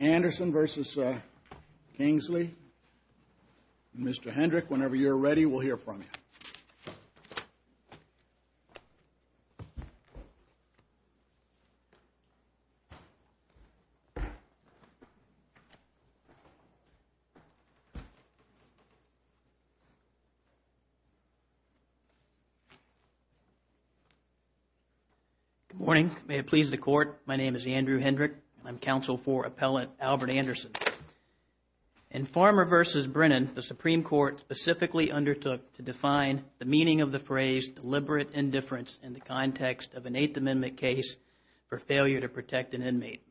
Anderson v. Kingsley. Mr. Hendrick, whenever you're ready, we'll hear from you. Good morning. May it please the Court, my name is Andrew Hendrick. I'm counsel for Appellant Albert Anderson. In Farmer v. Brennan, the Supreme Court specifically undertook to define the meaning of the phrase deliberate indifference in the context of an Eighth Amendment case for failure to protect an inmate.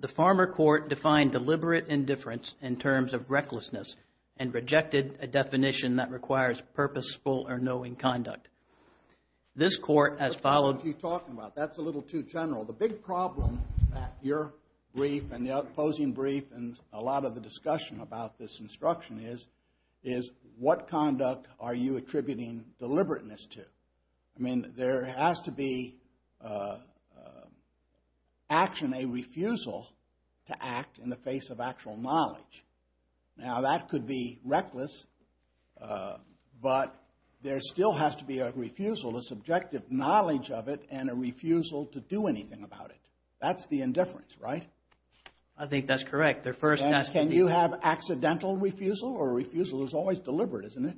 The Farmer court defined deliberate indifference in terms of recklessness and rejected a definition that requires purposeful or knowing conduct. This Court has followed- That's not what you're talking about. That's a little too general. The big problem at your brief and the opposing brief and a lot of the discussion about this instruction is, is what conduct are you attributing deliberateness to? I mean, there has to be action, a refusal to act in the face of actual knowledge. Now, that could be reckless, but there still has to be a refusal, a subjective knowledge of it and a refusal to do anything about it. That's the indifference, right? I think that's correct. The first- Can you have accidental refusal or refusal is always deliberate, isn't it?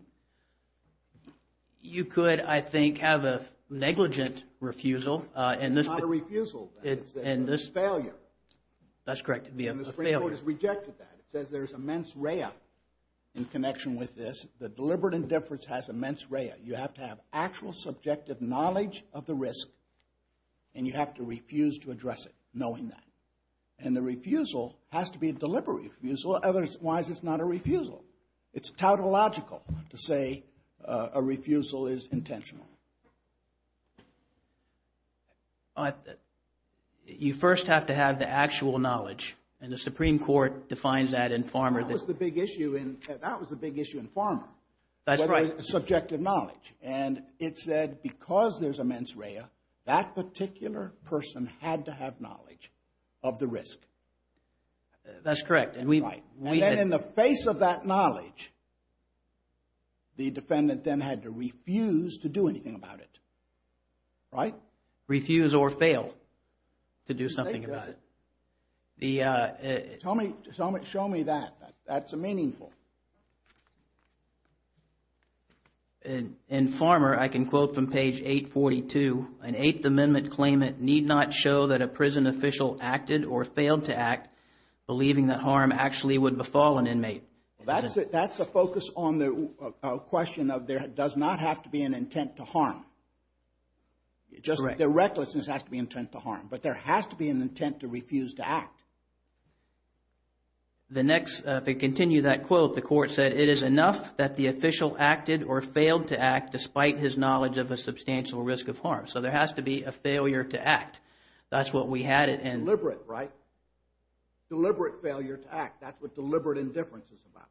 You could, I think, have a negligent refusal. It's not a refusal. It's a failure. That's correct. It'd be a failure. And this Court has rejected that. It says there's immense rea in connection with this. The deliberate indifference has immense rea. You have to have actual subjective knowledge of the risk and you have to refuse to address it knowing that. And the refusal has to be a deliberate refusal. Otherwise, it's not a refusal. It's tautological to say a refusal is intentional. You first have to have the actual knowledge and the Supreme Court defines that in Farmer- That was the big issue in Farmer. That's right. Subjective knowledge. And it said because there's immense rea, that particular person had to have knowledge of the risk. That's correct. And then in the face of that knowledge, the defendant then had to refuse to do anything about it, right? Refuse or fail to do something about it. Show me that. That's meaningful. In Farmer, I can quote from page 842, an Eighth Amendment claimant need not show that a prison would befall an inmate. That's a focus on the question of there does not have to be an intent to harm. Correct. Just the recklessness has to be intent to harm. But there has to be an intent to refuse to act. The next, if we continue that quote, the court said, it is enough that the official acted or failed to act despite his knowledge of a substantial risk of harm. So there has to be a failure to act. That's what we had in- Deliberate failure to act. That's what deliberate indifference is about.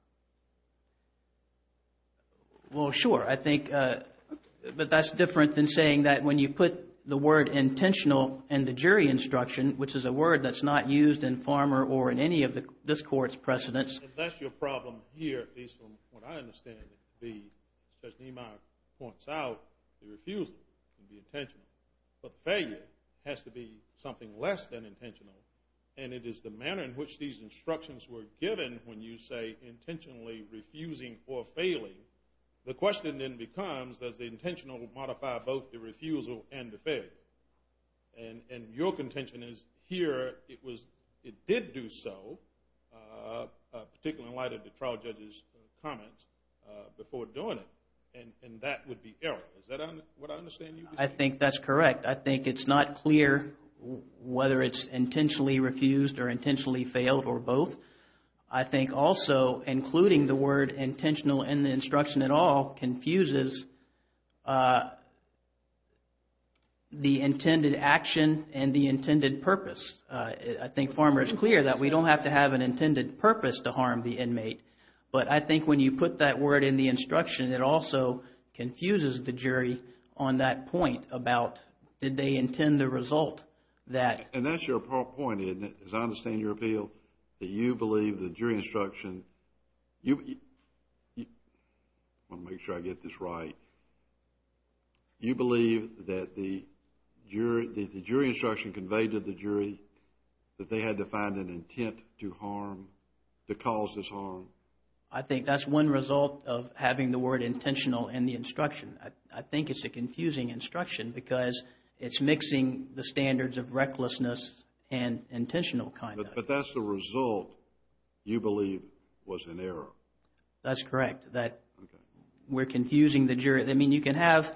Well, sure. I think, but that's different than saying that when you put the word intentional in the jury instruction, which is a word that's not used in Farmer or in any of this court's precedents. That's your problem here, at least from what I understand it to be, as Judge Niemeyer points out, the refusal can be intentional. But failure has to be something less than intentional. And it is the manner in which these instructions were given when you say intentionally refusing or failing. The question then becomes, does the intentional modify both the refusal and the failure? And your contention is here it was, it did do so, particularly in light of the trial judge's comments, before doing it. And that would be error. Is that what I understand you to say? I think that's correct. I think it's not clear whether it's intentionally refused or intentionally failed or both. I think also including the word intentional in the instruction at all confuses the intended action and the intended purpose. I think Farmer is clear that we don't have to have an intended purpose to harm the inmate. But I think when you put that word in the instruction, it also confuses the jury on that point about, did they intend the result that... And that's your point, isn't it? As I understand your appeal, that you believe the jury instruction... I want to make sure I get this right. You believe that the jury instruction conveyed to the jury that they had to find an intent to harm, to cause this harm? I think that's one result of having the word intentional in the instruction. I think it's a confusing instruction because it's mixing the standards of recklessness and intentional conduct. But that's the result you believe was an error. That's correct. That we're confusing the jury. I mean, you can have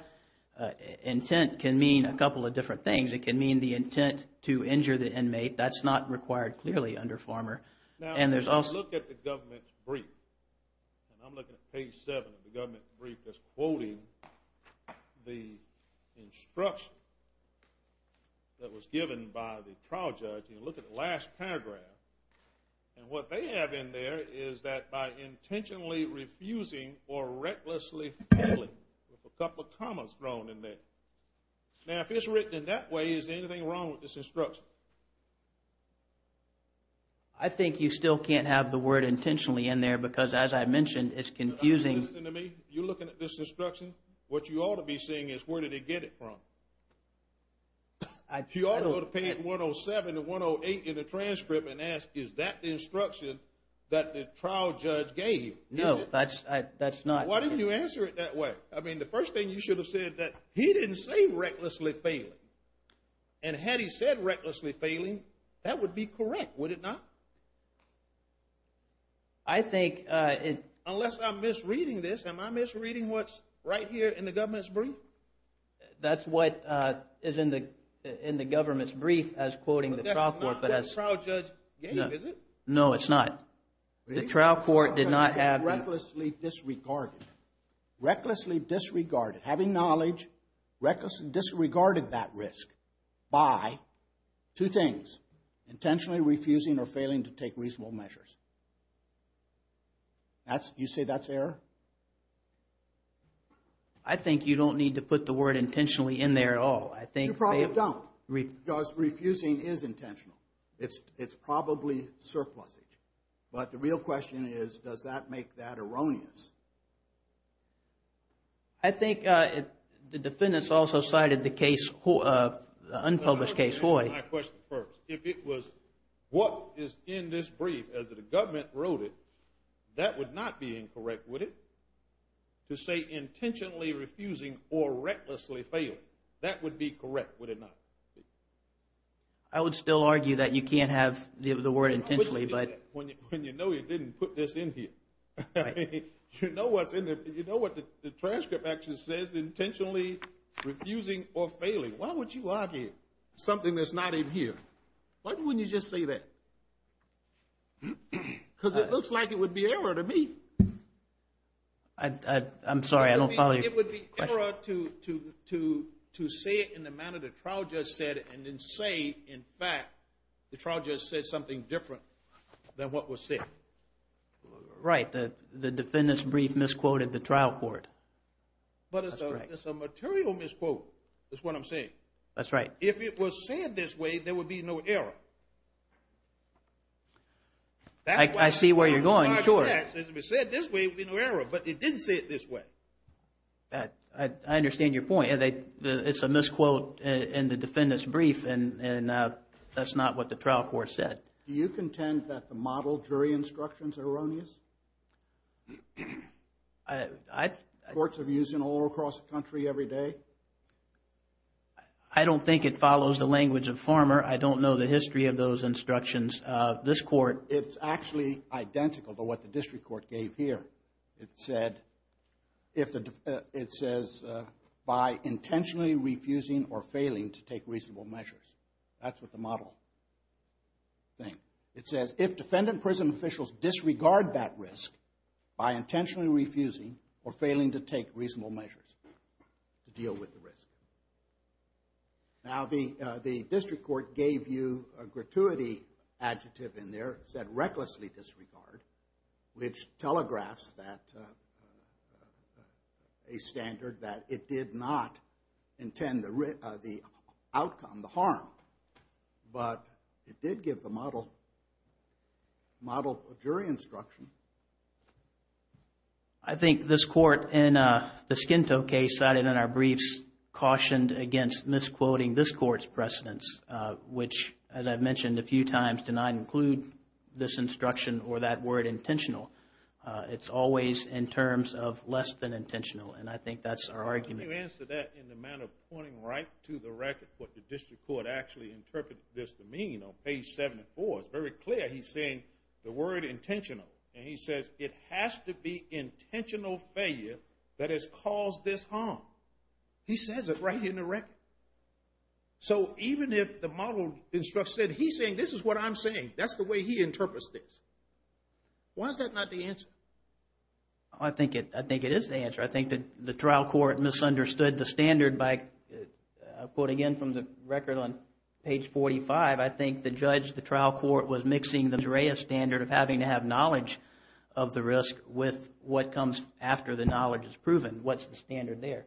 intent can mean a couple of different things. It can mean the intent to injure the inmate. That's not required clearly under Farmer. Now, if you look at the government brief, and I'm looking at page 7 of the government brief that's quoting the instruction that was given by the trial judge, and you look at the last paragraph, and what they have in there is that by intentionally refusing or recklessly failing, with a couple of commas thrown in there. Now, if it's written in that way, is anything wrong with this instruction? I think you still can't have the word intentionally in there because, as I mentioned, it's confusing. But are you listening to me? You're looking at this instruction. What you ought to be saying is where did they get it from? You ought to go to page 107 and 108 in the transcript and ask, is that the instruction that the trial judge gave? No, that's not. Why didn't you answer it that way? I mean, the first thing you should have said, he didn't say recklessly failing. And had he said recklessly failing, that would be correct, would it not? I think it... Unless I'm misreading this, am I misreading what's right here in the government's brief? That's what is in the government's brief as quoting the trial court, but as... That's not what the trial judge gave, is it? No, it's not. The trial court did not have... Recklessly disregarded, having knowledge, disregarded that risk by two things, intentionally refusing or failing to take reasonable measures. You say that's error? I think you don't need to put the word intentionally in there at all. I think... You probably don't because refusing is intentional. It's probably surplusage. But the real question is, does that make that erroneous? I think the defendants also cited the case, the unpublished case, Hoy. Let me answer my question first. If it was what is in this brief as the government wrote it, that would not be incorrect, would it? To say intentionally refusing or recklessly failing, that would be correct, would it not? I would still argue that you can't have the word intentionally, but... When you know you didn't put this in here. You know what's in there, but you know what the transcript actually says, intentionally refusing or failing. Why would you argue something that's not in here? Why wouldn't you just say that? Because it looks like it would be error to me. I'm sorry, I don't follow your question. It would be error to say it in the manner the trial judge said it and then say, in fact, the trial judge said something different than what was said. Right, the defendant's brief misquoted the trial court. But it's a material misquote, is what I'm saying. That's right. If it was said this way, there would be no error. I see where you're going, sure. If it was said this way, there would be no error, but it didn't say it this way. I understand your point. It's a misquote in the defendant's brief, and that's not what the trial court said. Do you contend that the model jury instructions are erroneous? Courts are used all across the country every day. I don't think it follows the language of Farmer. I don't know the history of those instructions. This court... It's actually identical to what the district court gave here. It said, if the... It says, by intentionally refusing or failing to take reasonable measures. That's what the model thing... It says, if defendant prison officials disregard that risk by intentionally refusing or failing to take reasonable measures to deal with the risk. Now, the district court gave you a gratuity adjective in there, it said, recklessly disregard, which telegraphs a standard that it did not intend the outcome, the harm, but it did give the model jury instruction. I think this court, in the Skinto case cited in our briefs, cautioned against misquoting this court's precedence, which, as I've mentioned a few times, did not include this instruction or that word intentional. It's always in terms of less than intentional, and I think that's our argument. Can you answer that in the manner of pointing right to the record, what the district court actually interpreted this to mean on page 74? It's very clear he's saying the word intentional, and he says, it has to be intentional failure that has caused this harm. He says it right here in the record. So even if the model instructor said, he's saying this is what I'm saying, that's the way he interprets this, why is that not the answer? I think it is the answer. I think that the trial court misunderstood the standard by, I'll quote again from the record on page 45, I think the judge, the trial court, was mixing the DREA standard of having to have knowledge of the risk with what comes after the knowledge is proven. What's the standard there?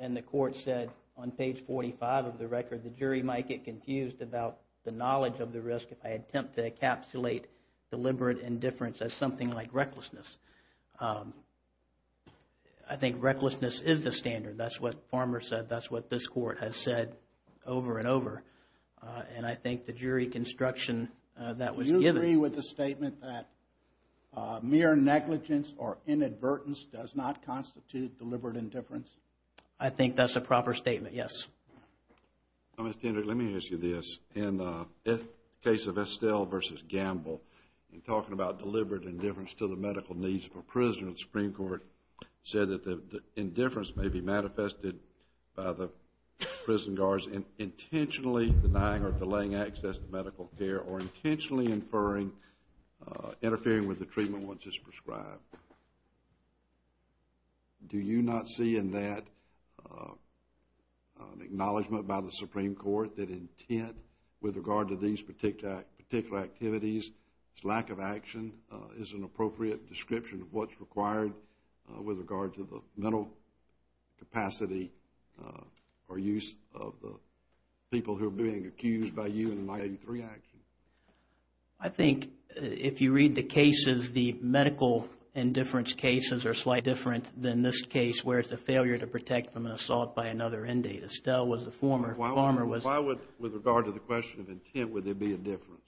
And the court said on page 45 of the record, the jury might get confused about the knowledge of the risk if I attempt to encapsulate deliberate indifference as something like recklessness. I think recklessness is the standard. That's what Farmer said. That's what this court has said over and over. And I think the jury construction that was given. Do you agree with the statement that mere negligence or inadvertence does not constitute deliberate indifference? I think that's a proper statement, yes. Mr. Hendricks, let me ask you this. In the case of Estelle v. Gamble, in talking about deliberate indifference to the medical needs of a prisoner, the Supreme Court said that the indifference may be manifested by the prison guards intentionally denying or delaying access to medical care or intentionally inferring, interfering with the treatment once it's prescribed. Do you not see in that an acknowledgment by the Supreme Court that intent with regard to these particular activities, its lack of action, is an appropriate description of what's required with regard to the mental capacity or use of the people who are being accused by you in the 1983 action? I think if you read the cases, the medical indifference cases are slightly different than this case where it's a failure to protect from an assault by another inmate. Estelle was the former. Farmer was... Why would, with regard to the question of intent, would there be a difference?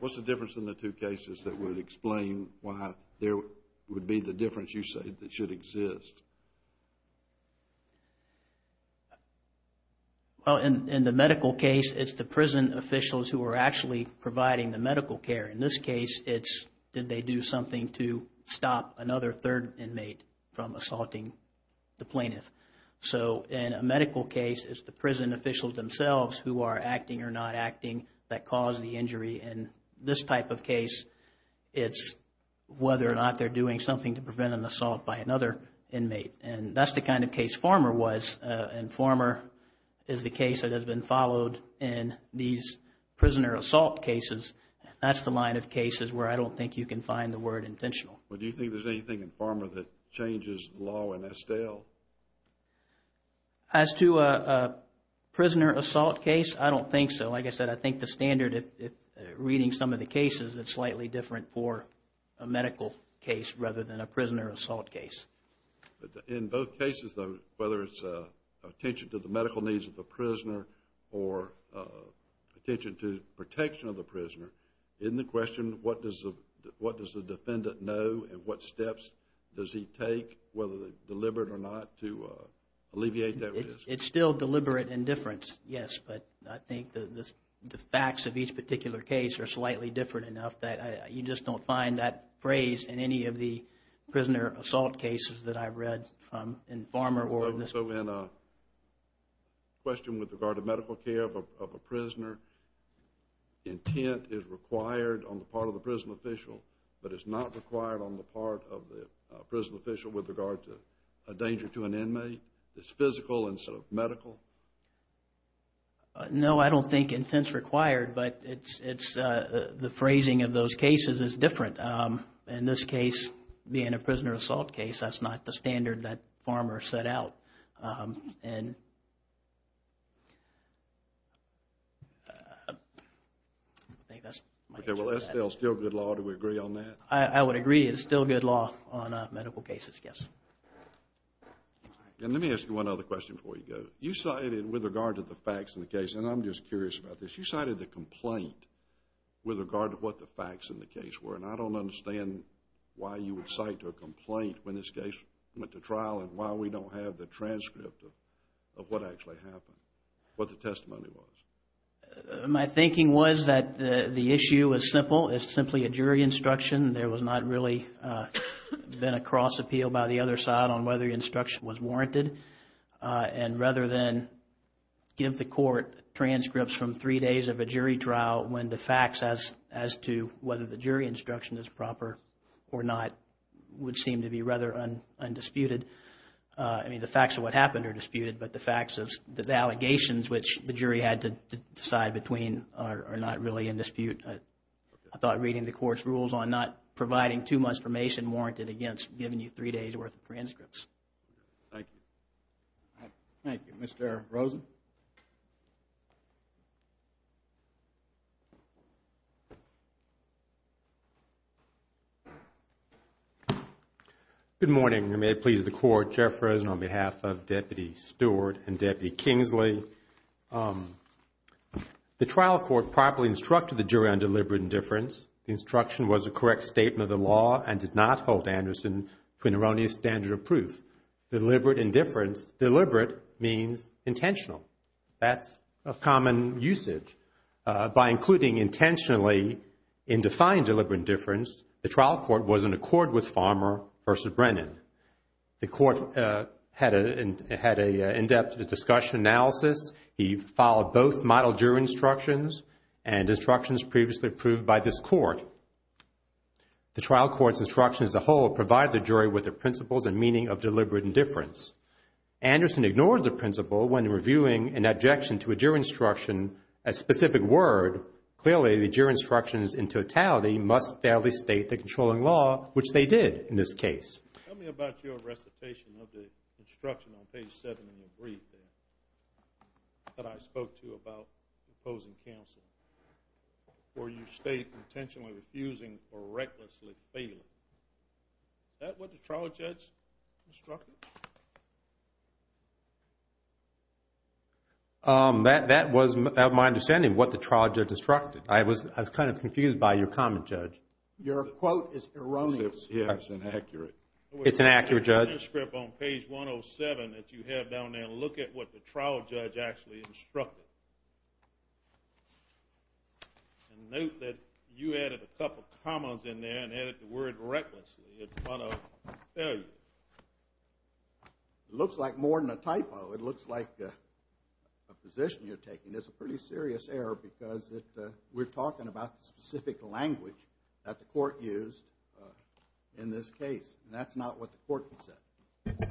What's the difference in the two cases that would explain why there would be the difference that you say that should exist? Well, in the medical case, it's the prison officials who are actually providing the medical care. In this case, it's did they do something to stop another third inmate from assaulting the plaintiff. So, in a medical case, it's the prison officials themselves who are acting or not acting that cause the injury. In this type of case, it's whether or not they're doing something to prevent an assault by another inmate. And that's the kind of case Farmer was. And Farmer is the case that has been followed in these prisoner assault cases. That's the line of cases where I don't think you can find the word intentional. But do you think there's anything in Farmer that changes the law in Estelle? As to a prisoner assault case, I don't think so. And like I said, I think the standard, reading some of the cases, it's slightly different for a medical case rather than a prisoner assault case. In both cases though, whether it's attention to the medical needs of the prisoner or attention to protection of the prisoner, in the question, what does the defendant know and what steps does he take, whether deliberate or not, to alleviate that risk? It's still deliberate indifference, yes. But I think the facts of each particular case are slightly different enough that you just don't find that phrase in any of the prisoner assault cases that I've read in Farmer or in Estelle. So in a question with regard to medical care of a prisoner, intent is required on the part of the prison official, but it's not required on the part of the prison official with regard to a danger to an inmate. It's physical instead of medical? No, I don't think intent's required, but the phrasing of those cases is different. In this case, being a prisoner assault case, that's not the standard that Farmer set out. And I think that's my answer to that. Okay, well Estelle's still good law. Do we agree on that? I would agree. It's still good law on medical cases, yes. And let me ask you one other question before we go. You cited, with regard to the facts in the case, and I'm just curious about this, you cited the complaint with regard to what the facts in the case were, and I don't understand why you would cite a complaint when this case went to trial and why we don't have the transcript of what actually happened, what the testimony was. My thinking was that the issue was simple. It's simply a jury instruction. There was not really been a cross-appeal by the other side on whether the instruction was warranted. And rather than give the court transcripts from three days of a jury trial when the facts as to whether the jury instruction is proper or not would seem to be rather undisputed. I mean, the facts of what happened are disputed, but the facts of the allegations which the jury had to decide between are not really in dispute. I thought reading the court's rules on not providing too much information warranted against giving you three days' worth of transcripts. Thank you. Thank you. Mr. Rosen? Good morning, and may it please the Court. Jeff Rosen on behalf of Deputy Stewart and Deputy Kingsley. The trial court properly instructed the jury on deliberate indifference. The instruction was a correct statement of the law and did not hold Anderson to an erroneous standard of proof. Deliberate indifference, deliberate means intentional. That's a common usage. By including intentionally in defined deliberate indifference, the trial court was in accord with Farmer versus Brennan. The court had an in-depth discussion analysis. He followed both model jury instructions and instructions previously approved by this court. The trial court's instructions as a whole provided the jury with the principles and meaning of deliberate indifference. Anderson ignored the principle when reviewing an objection to a jury instruction, a specific word. Clearly, the jury instructions in totality must fairly state the controlling law, which they did in this case. Tell me about your recitation of the instruction on page 7 in your brief that I spoke to about opposing counsel, where you state intentionally refusing or recklessly failing. Is that what the trial judge instructed? That was my understanding of what the trial judge instructed. I was kind of confused by your comment, Judge. Your quote is erroneous. Yeah, it's inaccurate. It's an accurate, Judge. In your manuscript on page 107 that you have down there, look at what the trial judge actually instructed. And note that you added a couple of commas in there and added the word recklessly in front of failure. It looks like more than a typo. It looks like a position you're taking. It's a pretty serious error because we're talking about the specific language that the judge used in this case. And that's not what the court said.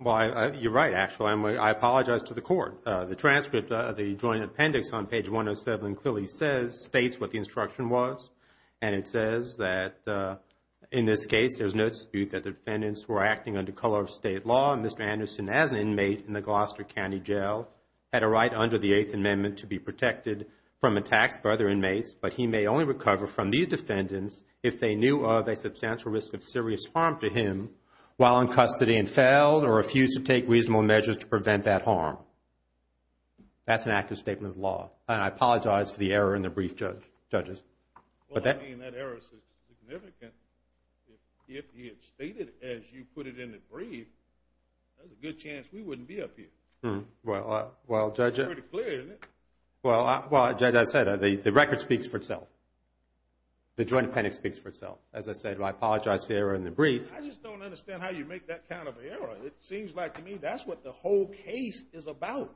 Well, you're right, actually. I apologize to the court. The transcript of the joint appendix on page 107 clearly states what the instruction was. And it says that in this case, there's no dispute that the defendants were acting under color of state law. And Mr. Anderson, as an inmate in the Gloucester County Jail, had a right under the Eighth Amendment to be protected from attacks by other inmates. But he may only recover from these defendants if they knew of a substantial risk of serious harm to him while in custody and failed or refused to take reasonable measures to prevent that harm. That's an accurate statement of the law. And I apologize for the error in the brief, Judge. Well, I mean, that error is significant. If he had stated as you put it in the brief, there's a good chance we wouldn't be up here. Well, Judge, I said the record speaks for itself. The joint appendix speaks for itself. As I said, I apologize for the error in the brief. I just don't understand how you make that kind of error. It seems like to me that's what the whole case is about.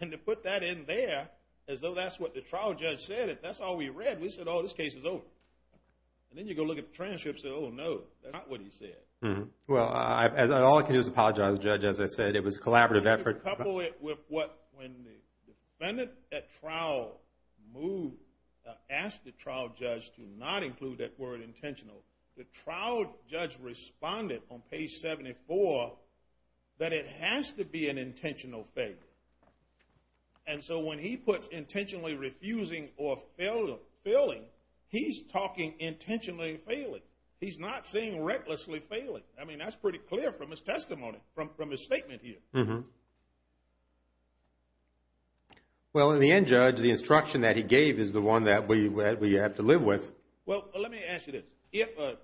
And to put that in there as though that's what the trial judge said, that's all we read. We said, oh, this case is over. And then you go look at the transcript and say, oh, no, that's not what he said. Well, all I can do is apologize, Judge. As I said, it was a collaborative effort. When the defendant at trial asked the trial judge to not include that word intentional, the trial judge responded on page 74 that it has to be an intentional failure. And so when he puts intentionally refusing or failing, he's talking intentionally failing. He's not saying recklessly failing. I mean, that's pretty clear from his testimony, from his statement here. Well, in the end, Judge, the instruction that he gave is the one that we have to live with. Well, let me ask you this. If a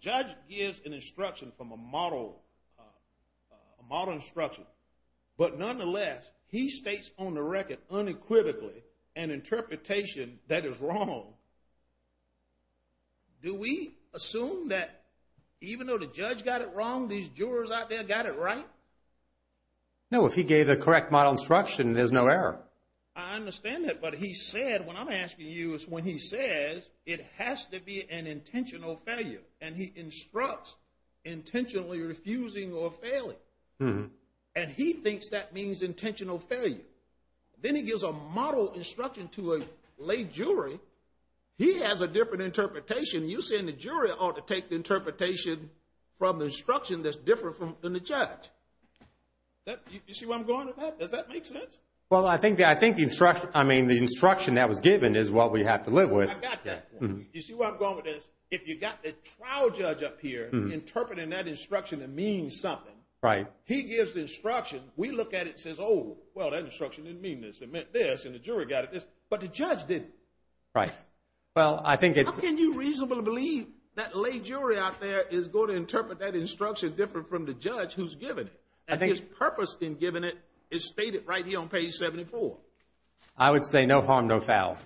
judge gives an instruction from a model instruction, but nonetheless he states on the record unequivocally an interpretation that is wrong, do we assume that even though the judge got it wrong, these jurors out there got it right? No, if he gave the correct model instruction, there's no error. I understand that. But he said, what I'm asking you is when he says it has to be an intentional failure and he instructs intentionally refusing or failing, and he thinks that means intentional failure, then he gives a model instruction to a late jury, he has a different interpretation. You're saying the jury ought to take the interpretation from the instruction that's different from the judge. You see where I'm going with that? Does that make sense? Well, I think the instruction that was given is what we have to live with. I got that. You see where I'm going with this? If you've got the trial judge up here interpreting that instruction that means something, he gives the instruction, we look at it and say, oh, well, that instruction didn't mean this. It meant this, and the jury got it this. But the judge didn't. Right. Well, I think it's— How can you reasonably believe that late jury out there is going to interpret that instruction different from the judge who's given it? I think— And his purpose in giving it is stated right here on page 74. I would say no harm, no foul.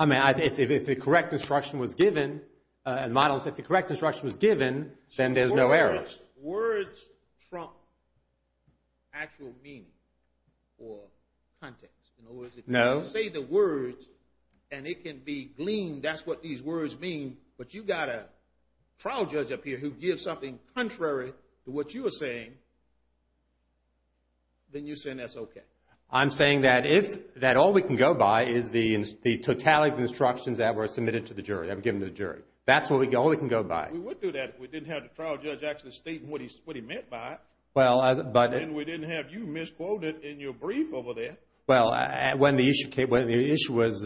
I mean, if the correct instruction was given, and models, if the correct instruction was given, then there's no error. Words trump actual meaning or context. No. If you say the words and it can be gleaned, that's what these words mean, but you've got a trial judge up here who gives something contrary to what you are saying, then you're saying that's okay. I'm saying that if—that all we can go by is the totality of the instructions that were submitted to the jury, that were given to the jury. That's all we can go by. We would do that if we didn't have the trial judge actually stating what he meant by it. Well, but— And we didn't have you misquoted in your brief over there. Well, when the issue came—when the issue was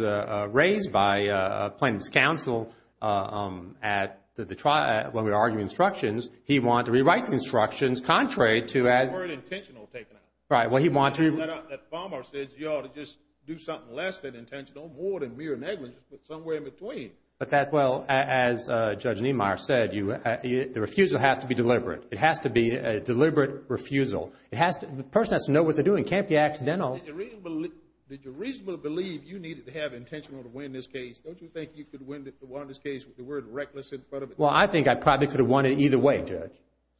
raised by plaintiff's counsel at the trial, when we were arguing instructions, he wanted to rewrite the instructions contrary to as— The word intentional taken out. Right. Well, he wanted to— That farmer says you ought to just do something less than intentional, more than mere negligence, but somewhere in between. But that's—well, as Judge Niemeyer said, the refusal has to be deliberate. It has to be a deliberate refusal. It has to—the person has to know what they're doing. It can't be accidental. Did you reasonably believe you needed to have intentional to win this case? Don't you think you could win this case with the word reckless in front of it? Well, I think I probably could have won it either way, Judge.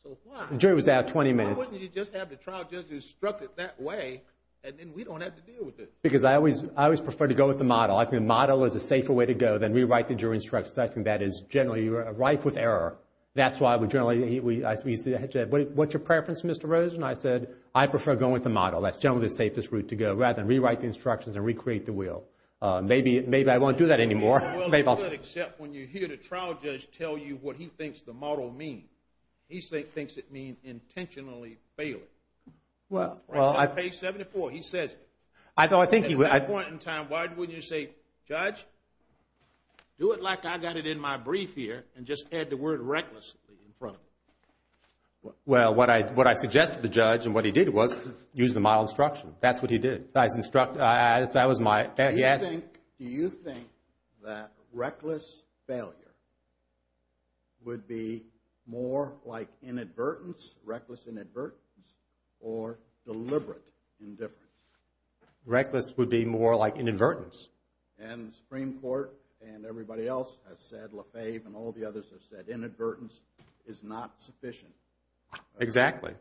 So why— The jury was out 20 minutes. Why wouldn't you just have the trial judge instruct it that way and then we don't have to deal with it? Because I always prefer to go with the model. I think the model is a safer way to go than rewrite the jury instructions. I think that is generally rife with error. That's why we generally—what's your preference, Mr. Rosen? I said I prefer going with the model. That's generally the safest route to go rather than rewrite the instructions and recreate the will. Maybe I won't do that anymore. Well, you could, except when you hear the trial judge tell you what he thinks the model means. He thinks it means intentionally failing. Well, I— Page 74, he says it. I thought— At what point in time, why wouldn't you say, Judge, do it like I got it in my brief here and just add the word recklessly in front of it? Well, what I suggested to the judge and what he did was use the model instruction. That's what he did. That was my— Do you think that reckless failure would be more like inadvertence, reckless inadvertence, or deliberate indifference? Reckless would be more like inadvertence. And the Supreme Court and everybody else has said, LaFave and all the others have said, inadvertence is not sufficient. Exactly.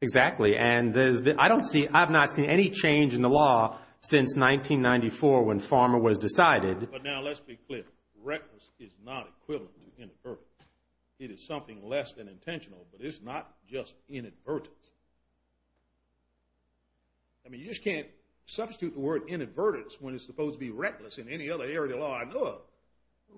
Exactly. And I don't see—I've not seen any change in the law since 1994 when Farmer was decided. But now let's be clear. Reckless is not equivalent to inadvertence. It is something less than intentional, but it's not just inadvertence. I mean, you just can't substitute the word inadvertence when it's supposed to be reckless in any other area of the law I know of.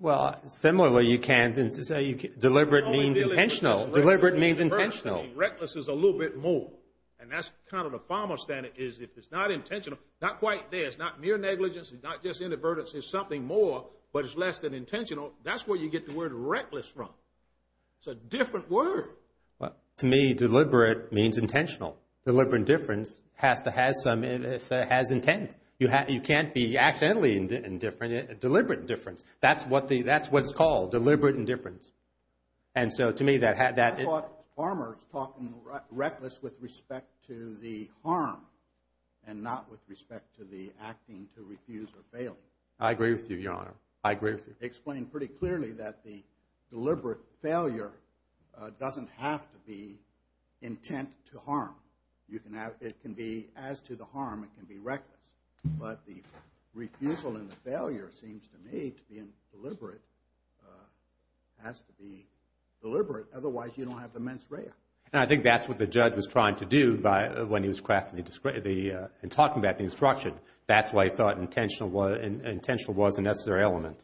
Well, similarly, you can't—deliberate means intentional. Deliberate means intentional. Reckless is a little bit more. And that's kind of the Farmer standard is if it's not intentional, not quite there. It's not mere negligence. It's not just inadvertence. It's something more, but it's less than intentional. That's where you get the word reckless from. It's a different word. Well, to me, deliberate means intentional. Deliberate indifference has to have some—it has intent. You can't be accidentally indifferent—deliberate indifference. That's what the—that's what it's called, deliberate indifference. And so, to me, that— I thought Farmer's talking reckless with respect to the harm and not with respect to the acting to refuse or fail. I agree with you, Your Honor. I agree with you. You explained pretty clearly that the deliberate failure doesn't have to be intent to harm. You can have—it can be as to the harm. It can be reckless. But the refusal and the failure seems to me to be deliberate, has to be deliberate. Otherwise, you don't have the mens rea. And I think that's what the judge was trying to do by—when he was crafting the—in talking about the instruction. That's why he thought intentional was a necessary element.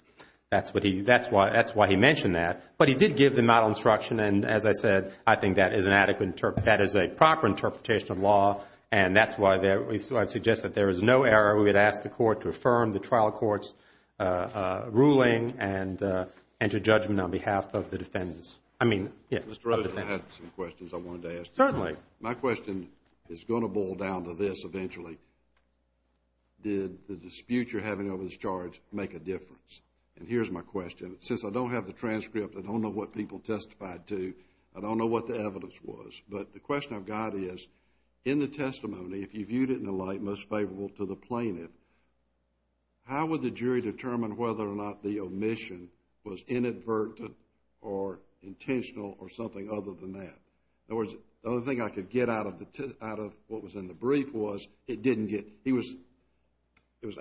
That's what he—that's why he mentioned that. But he did give the model instruction. And as I said, I think that is an adequate—that is a proper interpretation of law. And that's why there—so I suggest that there is no error. We would ask the Court to affirm the trial court's ruling and enter judgment on behalf of the defendants. I mean— Mr. Rosen, I have some questions I wanted to ask you. Certainly. My question is going to boil down to this eventually. Did the dispute you're having over this charge make a difference? And here's my question. Since I don't have the transcript, I don't know what people testified to, I don't know what the evidence was. But the question I've got is, in the testimony, if you viewed it in the light most favorable to the plaintiff, how would the jury determine whether or not the omission was inadvertent or intentional or something other than that? In other words, the only thing I could get out of what was in the brief was it didn't get—he was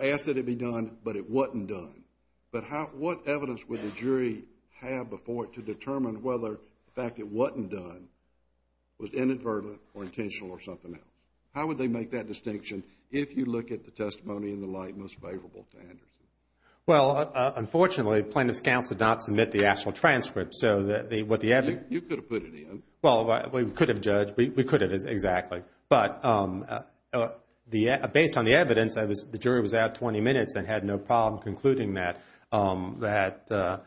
asked that it be done, but it wasn't done. But how—what evidence would the jury have before it to determine whether the fact it wasn't done was inadvertent or intentional or something else? How would they make that distinction if you look at the testimony in the light most favorable to Anderson? Well, unfortunately, plaintiff's counsel did not submit the actual transcript. So what the evidence— You could have put it in. Well, we could have, Judge. We could have, exactly. But based on the evidence, I was—the jury was out 20 minutes and had no problem concluding that, that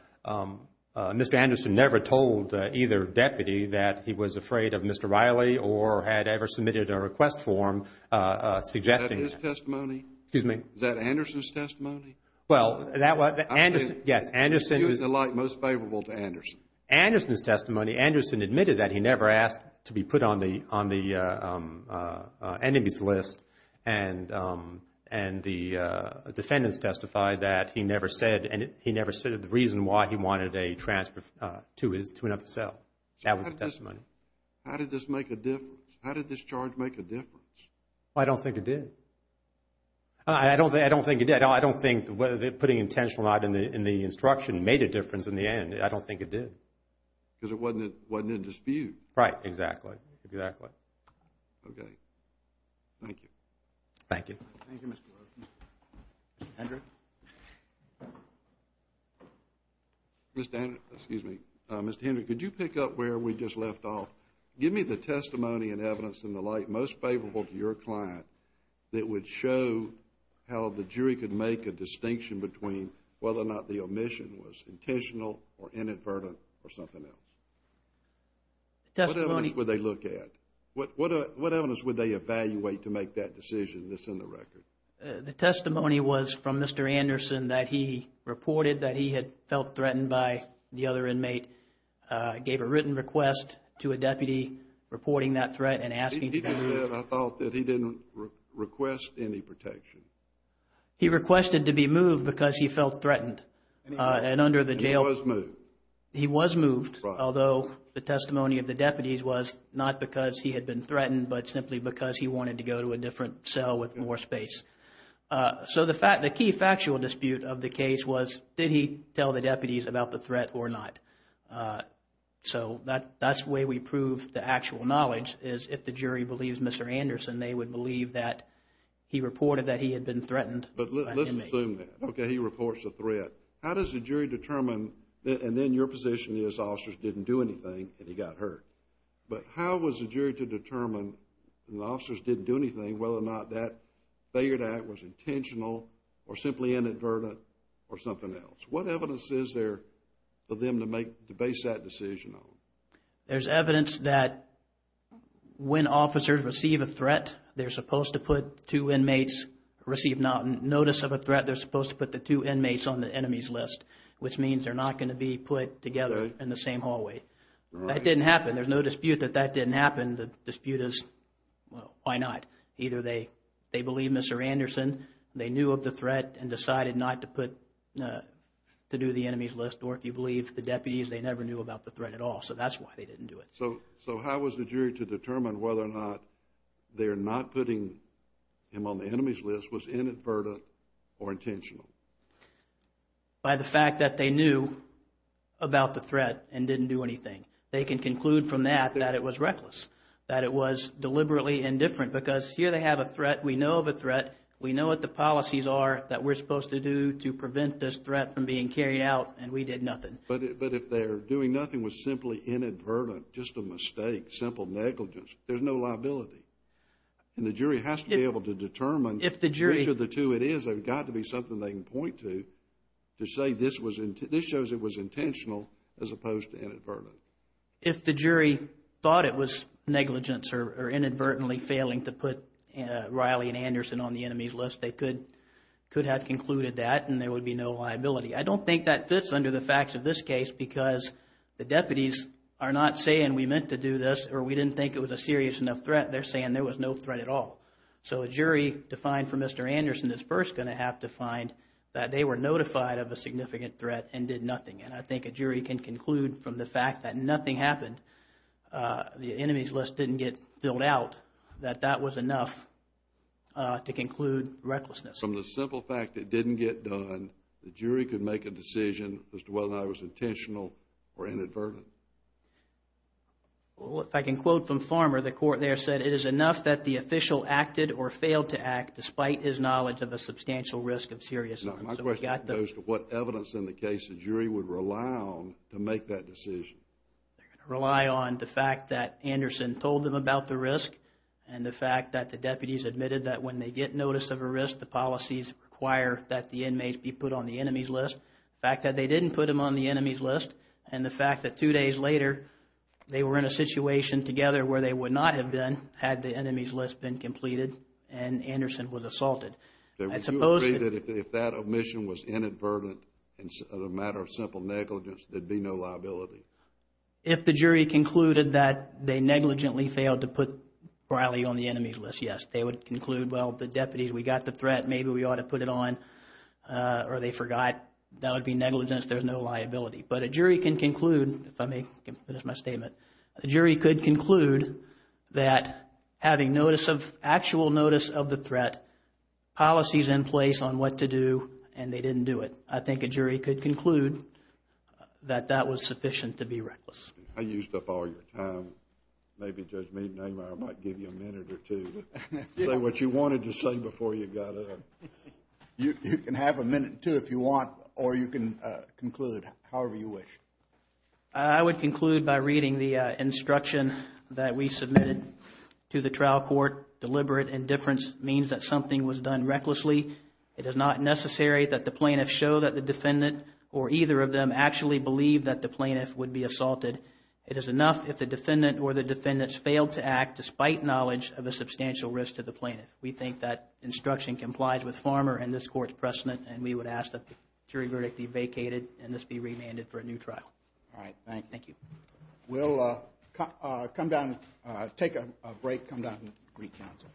Mr. Anderson never told either deputy that he was afraid of Mr. Riley or had ever submitted a request form suggesting— Is that his testimony? Excuse me? Is that Anderson's testimony? Well, that was— Yes, Anderson— View it in the light most favorable to Anderson. Anderson's testimony, Anderson admitted that he never asked to be put on the enemies list and the defendants testified that he never said—he never said the reason why he wanted a transfer to another cell. That was the testimony. How did this make a difference? How did this charge make a difference? I don't think it did. I don't think it did. I don't think putting intentional not in the instruction made a difference in the end. I don't think it did. Because it wasn't a dispute. Right. Exactly. Exactly. Okay. Thank you. Thank you. Thank you, Mr. Rowe. Mr. Hendry? Mr. Hendry, could you pick up where we just left off? Give me the testimony and evidence in the light most favorable to your client that would show how the jury could make a distinction between whether or not the omission was intentional or inadvertent or something else? The testimony— What evidence would they look at? What evidence would they evaluate to make that decision, this in the record? The testimony was from Mr. Anderson that he reported that he had felt threatened by the other inmate, gave a written request to a deputy reporting that threat and asking— I thought that he didn't request any protection. He requested to be moved because he felt threatened. And under the jail— He was moved. He was moved, although the testimony of the deputies was not because he had been threatened but simply because he wanted to go to a different cell with more space. So the key factual dispute of the case was did he tell the deputies about the threat or not? So that's the way we prove the actual knowledge is if the jury believes Mr. Anderson, they would believe that he reported that he had been threatened by an inmate. But let's assume that. Okay, he reports a threat. How does the jury determine—and then your position is officers didn't do anything and he got hurt. But how was the jury to determine if the officers didn't do anything, whether or not that failure to act was intentional or simply inadvertent or something else? What evidence is there for them to base that decision on? There's evidence that when officers receive a threat, they're supposed to put two inmates—receive notice of a threat. They're supposed to put the two inmates on the enemies list, which means they're not going to be put together in the same hallway. That didn't happen. There's no dispute that that didn't happen. The dispute is, well, why not? Either they believe Mr. Anderson, they knew of the threat and decided not to put—to do the enemies list, or if you believe the deputies, they never knew about the threat at all. So that's why they didn't do it. So how was the jury to determine whether or not their not putting him on the enemies list was inadvertent or intentional? By the fact that they knew about the threat and didn't do anything. They can conclude from that that it was reckless, that it was deliberately indifferent, because here they have a threat. We know of a threat. We know what the policies are that we're supposed to do to prevent this threat from being carried out, and we did nothing. But if their doing nothing was simply inadvertent, just a mistake, simple negligence, there's no liability. And the jury has to be able to determine— If the jury— Which of the two it is, there's got to be something they can point to, to say this shows it was intentional as opposed to inadvertent. If the jury thought it was negligence or inadvertently failing to put Riley and Anderson on the enemies list, they could have concluded that and there would be no liability. I don't think that fits under the facts of this case because the deputies are not saying we meant to do this or we didn't think it was a serious enough threat. They're saying there was no threat at all. So a jury defined for Mr. Anderson is first going to have to find that they were notified of a significant threat and did nothing. And I think a jury can conclude from the fact that nothing happened, the enemies list didn't get filled out, that that was enough to conclude recklessness. From the simple fact it didn't get done, the jury could make a decision as to whether that was intentional or inadvertent. Well, if I can quote from Farmer, the court there said, it is enough that the official acted or failed to act despite his knowledge of a substantial risk of seriousness. My question goes to what evidence in the case the jury would rely on to make that decision? They're going to rely on the fact that Anderson told them about the risk and the fact that the deputies admitted that when they get notice of a risk, the policies require that the inmates be put on the enemies list. The fact that they didn't put them on the enemies list and the fact that two days later they were in a situation together where they would not have been had the enemies list been completed and Anderson was assaulted. Would you agree that if that omission was inadvertent and a matter of simple negligence, there'd be no liability? If the jury concluded that they negligently failed to put Riley on the enemies list, yes. They would conclude, well, the deputies, we got the threat, maybe we ought to put it on, or they forgot, that would be negligence, there's no liability. But a jury can conclude, if I may finish my statement, a jury could conclude that having notice of, actual notice of the threat, policies in place on what to do, and they didn't do it. I think a jury could conclude that that was sufficient to be reckless. I used up all your time. Maybe Judge Mead, I might give you a minute or two. Say what you wanted to say before you got up. You can have a minute or two if you want, or you can conclude, however you wish. I would conclude by reading the instruction that we submitted to the trial court. Deliberate indifference means that something was done recklessly. It is not necessary that the plaintiff show that the defendant or either of them actually believe that the plaintiff would be assaulted. It is enough if the defendant or the defendants failed to act despite knowledge of a substantial risk to the plaintiff. We think that instruction complies with Farmer and this court's precedent, and we would ask that the jury verdict be vacated and this be remanded for a new trial. All right, thank you. Thank you. We'll come down, take a break, come down and re-counsel.